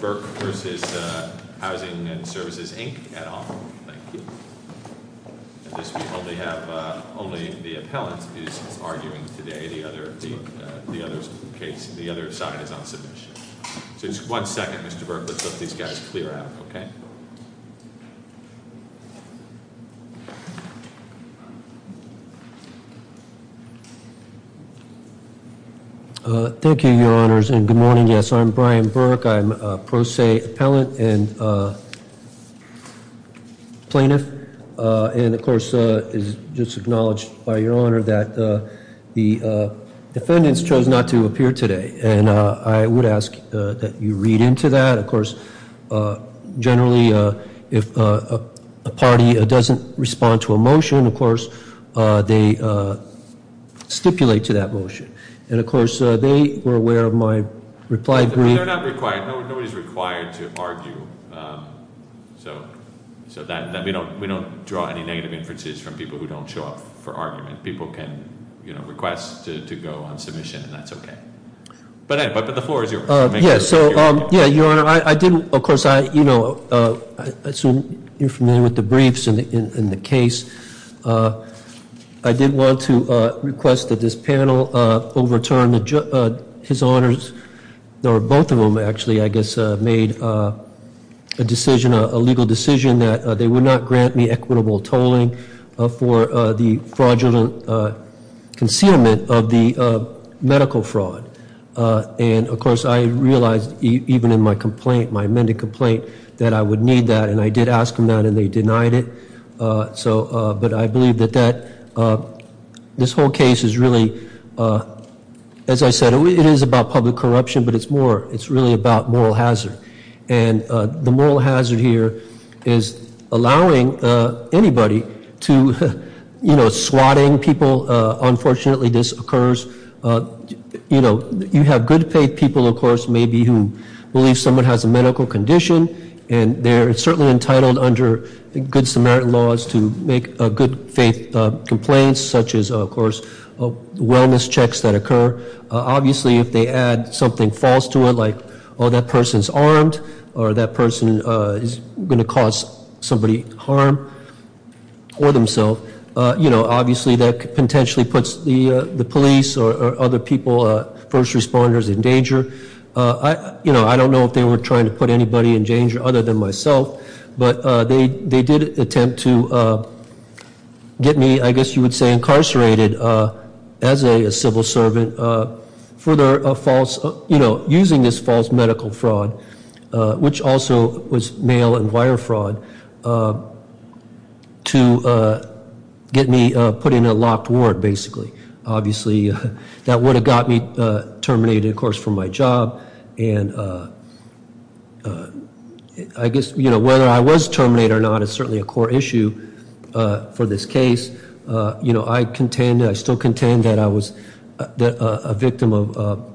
Burke v. Housing and Services, Inc. Thank you. Only the appellant is arguing today. The other side is on submission. One second, Mr. Burke. Let's let these guys clear out. Thank you, Your Honors. Good morning. I'm Brian Burke. I'm a pro se appellant. Plaintiff. And, of course, it's just acknowledged by Your Honor that the defendants chose not to appear today. I would ask that you read into that. Generally, if a party doesn't respond to a motion, of course, they stipulate to that motion. And, of course, they were aware of my reply brief. They're not required. Nobody's required to argue. We don't draw any negative inferences from people who don't show up for argument. People can request to go on submission, and that's okay. But the floor is yours. Of course, I assume you're familiar with the briefs and the case. I did want to request that this panel overturn his honors, or both of them, actually, I guess, made a decision, a legal decision, that they would not grant me equitable tolling for the fraudulent concealment of the medical fraud. And, of course, I realized even in my complaint, my amended complaint, that I would need that. And I did ask them that, and they denied it. But I believe that this whole case is really, as I said, it is about public corruption, but it's more, it's really about moral hazard. And the moral hazard here is allowing anybody to, you know, swatting people. Unfortunately, this occurs, you know, you have good faith people, of course, maybe who believe someone has a medical condition, and they're certainly entitled under good Samaritan laws to make good faith complaints, such as, of course, wellness checks that occur. Obviously, if they add something false to it, like, oh, that person's armed, or that person is going to cause somebody harm, or themselves, you know, obviously that potentially puts the police or other people, first responders, in danger. You know, I don't know if they were trying to put anybody in danger other than myself, but they did attempt to get me, I guess you would say, incarcerated as a civil servant for their false, you know, using this false medical fraud, which also was mail and wire fraud, to get me put in a locked ward, basically. Obviously, that would have got me terminated, of course, for my job, and I guess, you know, whether I was terminated or not is certainly a core issue for this case. You know, I contend, I still contend that I was a victim of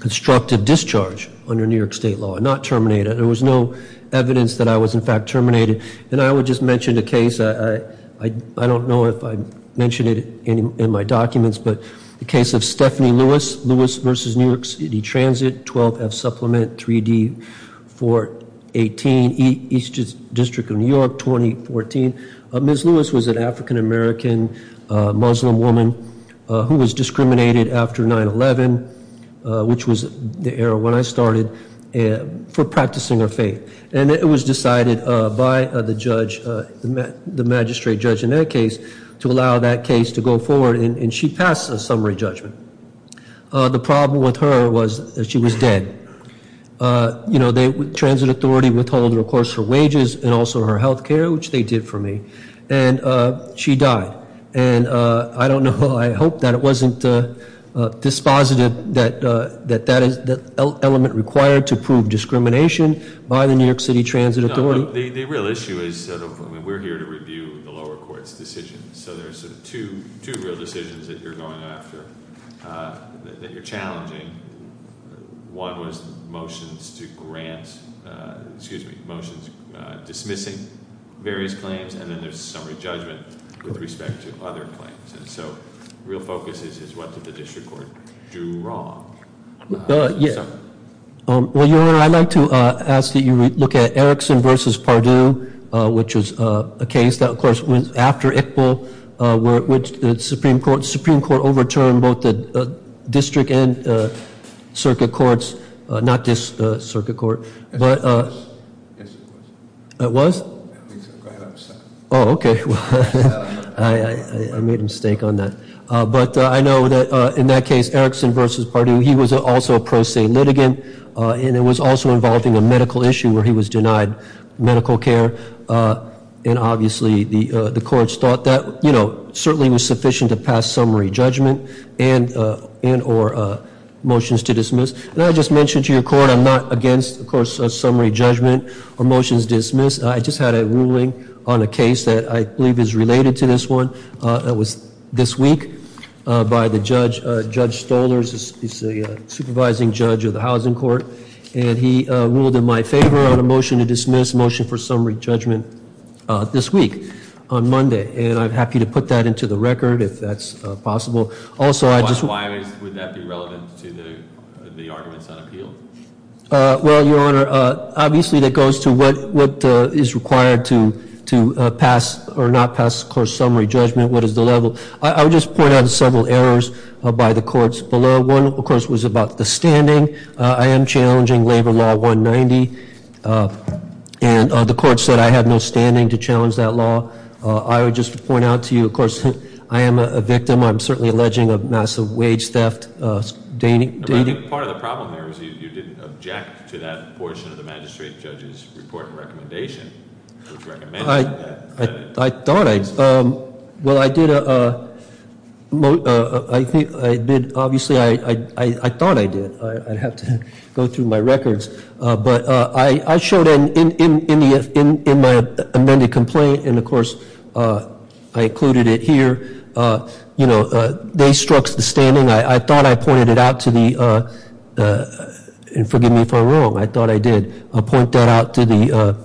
constructive discharge under New York State law, and not terminated. There was no evidence that I was, in fact, terminated. And I would just mention the case, I don't know if I mentioned it in my documents, but the case of Stephanie Lewis, Lewis versus New York City Transit, 12F Supplement, 3D, 418 East District of New York, 2014. Ms. Lewis was an African American Muslim woman who was discriminated after 9-11, which was the era when I started, for practicing her faith. And it was decided by the judge, the magistrate judge in that case to allow that case to go forward, and she passed a summary judgment. The problem with her was that she was dead. You know, the Transit Authority withholded, of course, her wages and also her health care, which they did for me, and she died. And I don't know, I hope that it wasn't dispositive that that element required to prove discrimination by the New York City Transit Authority. The real issue is, we're here to review the lower court's decisions, so there's two real decisions that you're going after that you're challenging. One was motions to grant, excuse me, motions dismissing various claims, and then there's summary judgment with respect to other claims. And so, real focus is, what did the district court do wrong? Well, Your Honor, I'd like to ask that you look at Erickson versus Pardue, which was a case that, of course, after Iqbal, the Supreme Court overturned both the district and circuit courts, not this circuit court. It was? Oh, okay. I made a mistake on that. But I know that in that case, Erickson versus Pardue, he was also a pro se litigant, and it was also involving a medical issue where he was denied medical care, and obviously, the courts thought that certainly was sufficient to pass summary judgment and or motions to dismiss. And I just mentioned to your court, I'm not against, of course, summary judgment or motions dismiss. I just had a ruling on a case that I believe is related to this one that was this week by Judge Stoller. He's the supervising judge of the housing court, and he ruled in my favor on a motion to dismiss motion for summary judgment this week on Monday, and I'm happy to put that into the record if that's possible. Also, I just... Why would that be relevant to the arguments on appeal? Well, Your Honor, obviously, that goes to what is required to pass or not pass, of course, summary judgment. What is the level? I would just point out several errors by the courts below. One, of course, was about the standing. I am challenging Labor Law 190, and the court said I had no standing to challenge that law. I would just point out to you, of course, I am a victim. I'm certainly alleging a massive wage theft. Part of the problem there is you didn't object to that portion of the magistrate judge's report and recommendation, which recommended that. I thought I... Well, I did... I did... Obviously, I thought I did. I'd have to go through my records, but I showed in my amended complaint, and, of course, I included it here. They struck the standing. I thought I pointed it out to the... Forgive me if I'm wrong. I thought I did point that out to the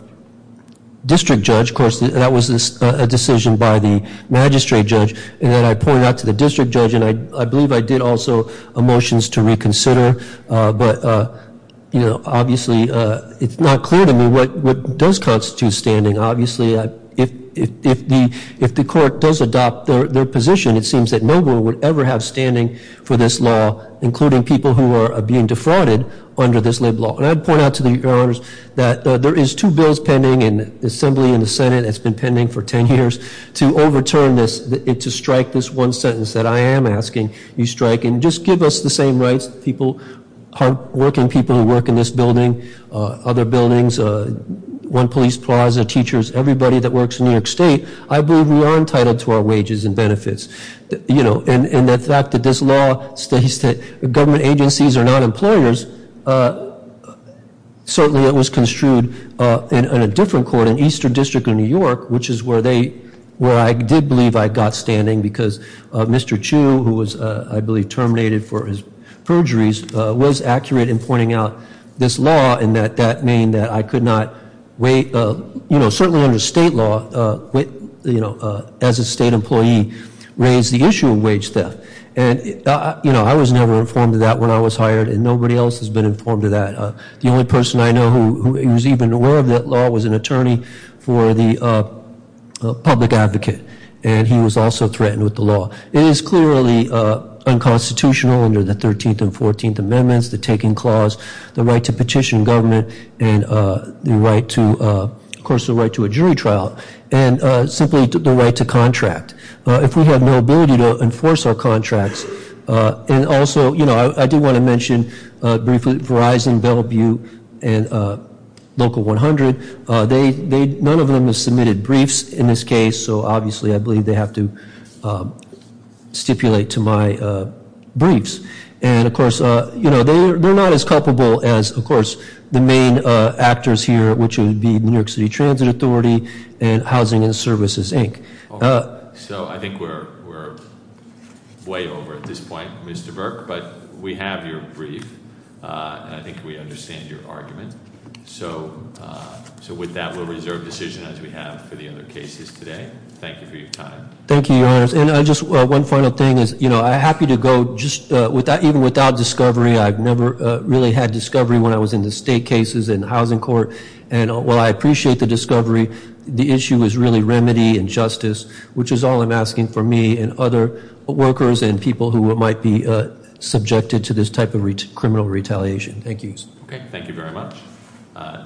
district judge. Of course, that was a decision by the magistrate judge, and then I pointed it out to the district judge, and I believe I did also a motion to reconsider. But, you know, obviously, it's not clear to me what does constitute standing. Obviously, if the court does adopt their position, it seems that no one would ever have standing for this law, including people who are being defrauded under this lib law. And I would point out to you, Your Honors, that there is two bills pending in the Assembly and the Senate. It's been pending for ten years to overturn this and to strike this one sentence that I am asking you strike, and just give us the same rights, people, hard-working people who work in this building, other buildings, One Police Plaza, teachers, everybody that works in New York State. I believe we are entitled to our wages and benefits. You know, and the fact that this law states that government agencies are not employers, certainly it was construed in a different court, in Eastern District of New York, which is where I did believe I got standing, because Mr. Chu, who was, I believe, terminated for his perjuries, was accurate in pointing out this law and that that mean that I could not wait, you know, certainly under state law, as a state employee, raise the issue of wage theft. You know, I was never informed of that when I was hired, and nobody else has been informed of that. The only person I know who was even aware of that law was an attorney for the public advocate, and he was also threatened with the law. It is clearly unconstitutional under the 13th and 14th Amendments, the Taking Clause, the right to petition government, and the right to, of course, the right to a jury trial, and simply the right to contract. If we have no ability to enforce our contracts, and also, you know, I do want to mention, briefly, Verizon, Bellevue, and Local 100, none of them have submitted briefs in this case, so, obviously, I believe they have to stipulate to my briefs. And, of course, they're not as culpable as, of course, the main actors here, which would be New York City Transit Authority and Housing and Services, Inc. So, I think we're way over at this point, Mr. Burke, but we have your brief, and I think we have your brief. So, with that, we'll reserve decision as we have for the other cases today. Thank you for your time. Thank you, Your Honors. And just one final thing is, you know, I'm happy to go, even without discovery, I've never really had discovery when I was in the state cases and housing court, and while I appreciate the discovery, the issue is really remedy and justice, which is all I'm asking for me and other workers and people who might be subjected to this type of criminal retaliation. Thank you. Thank you very much.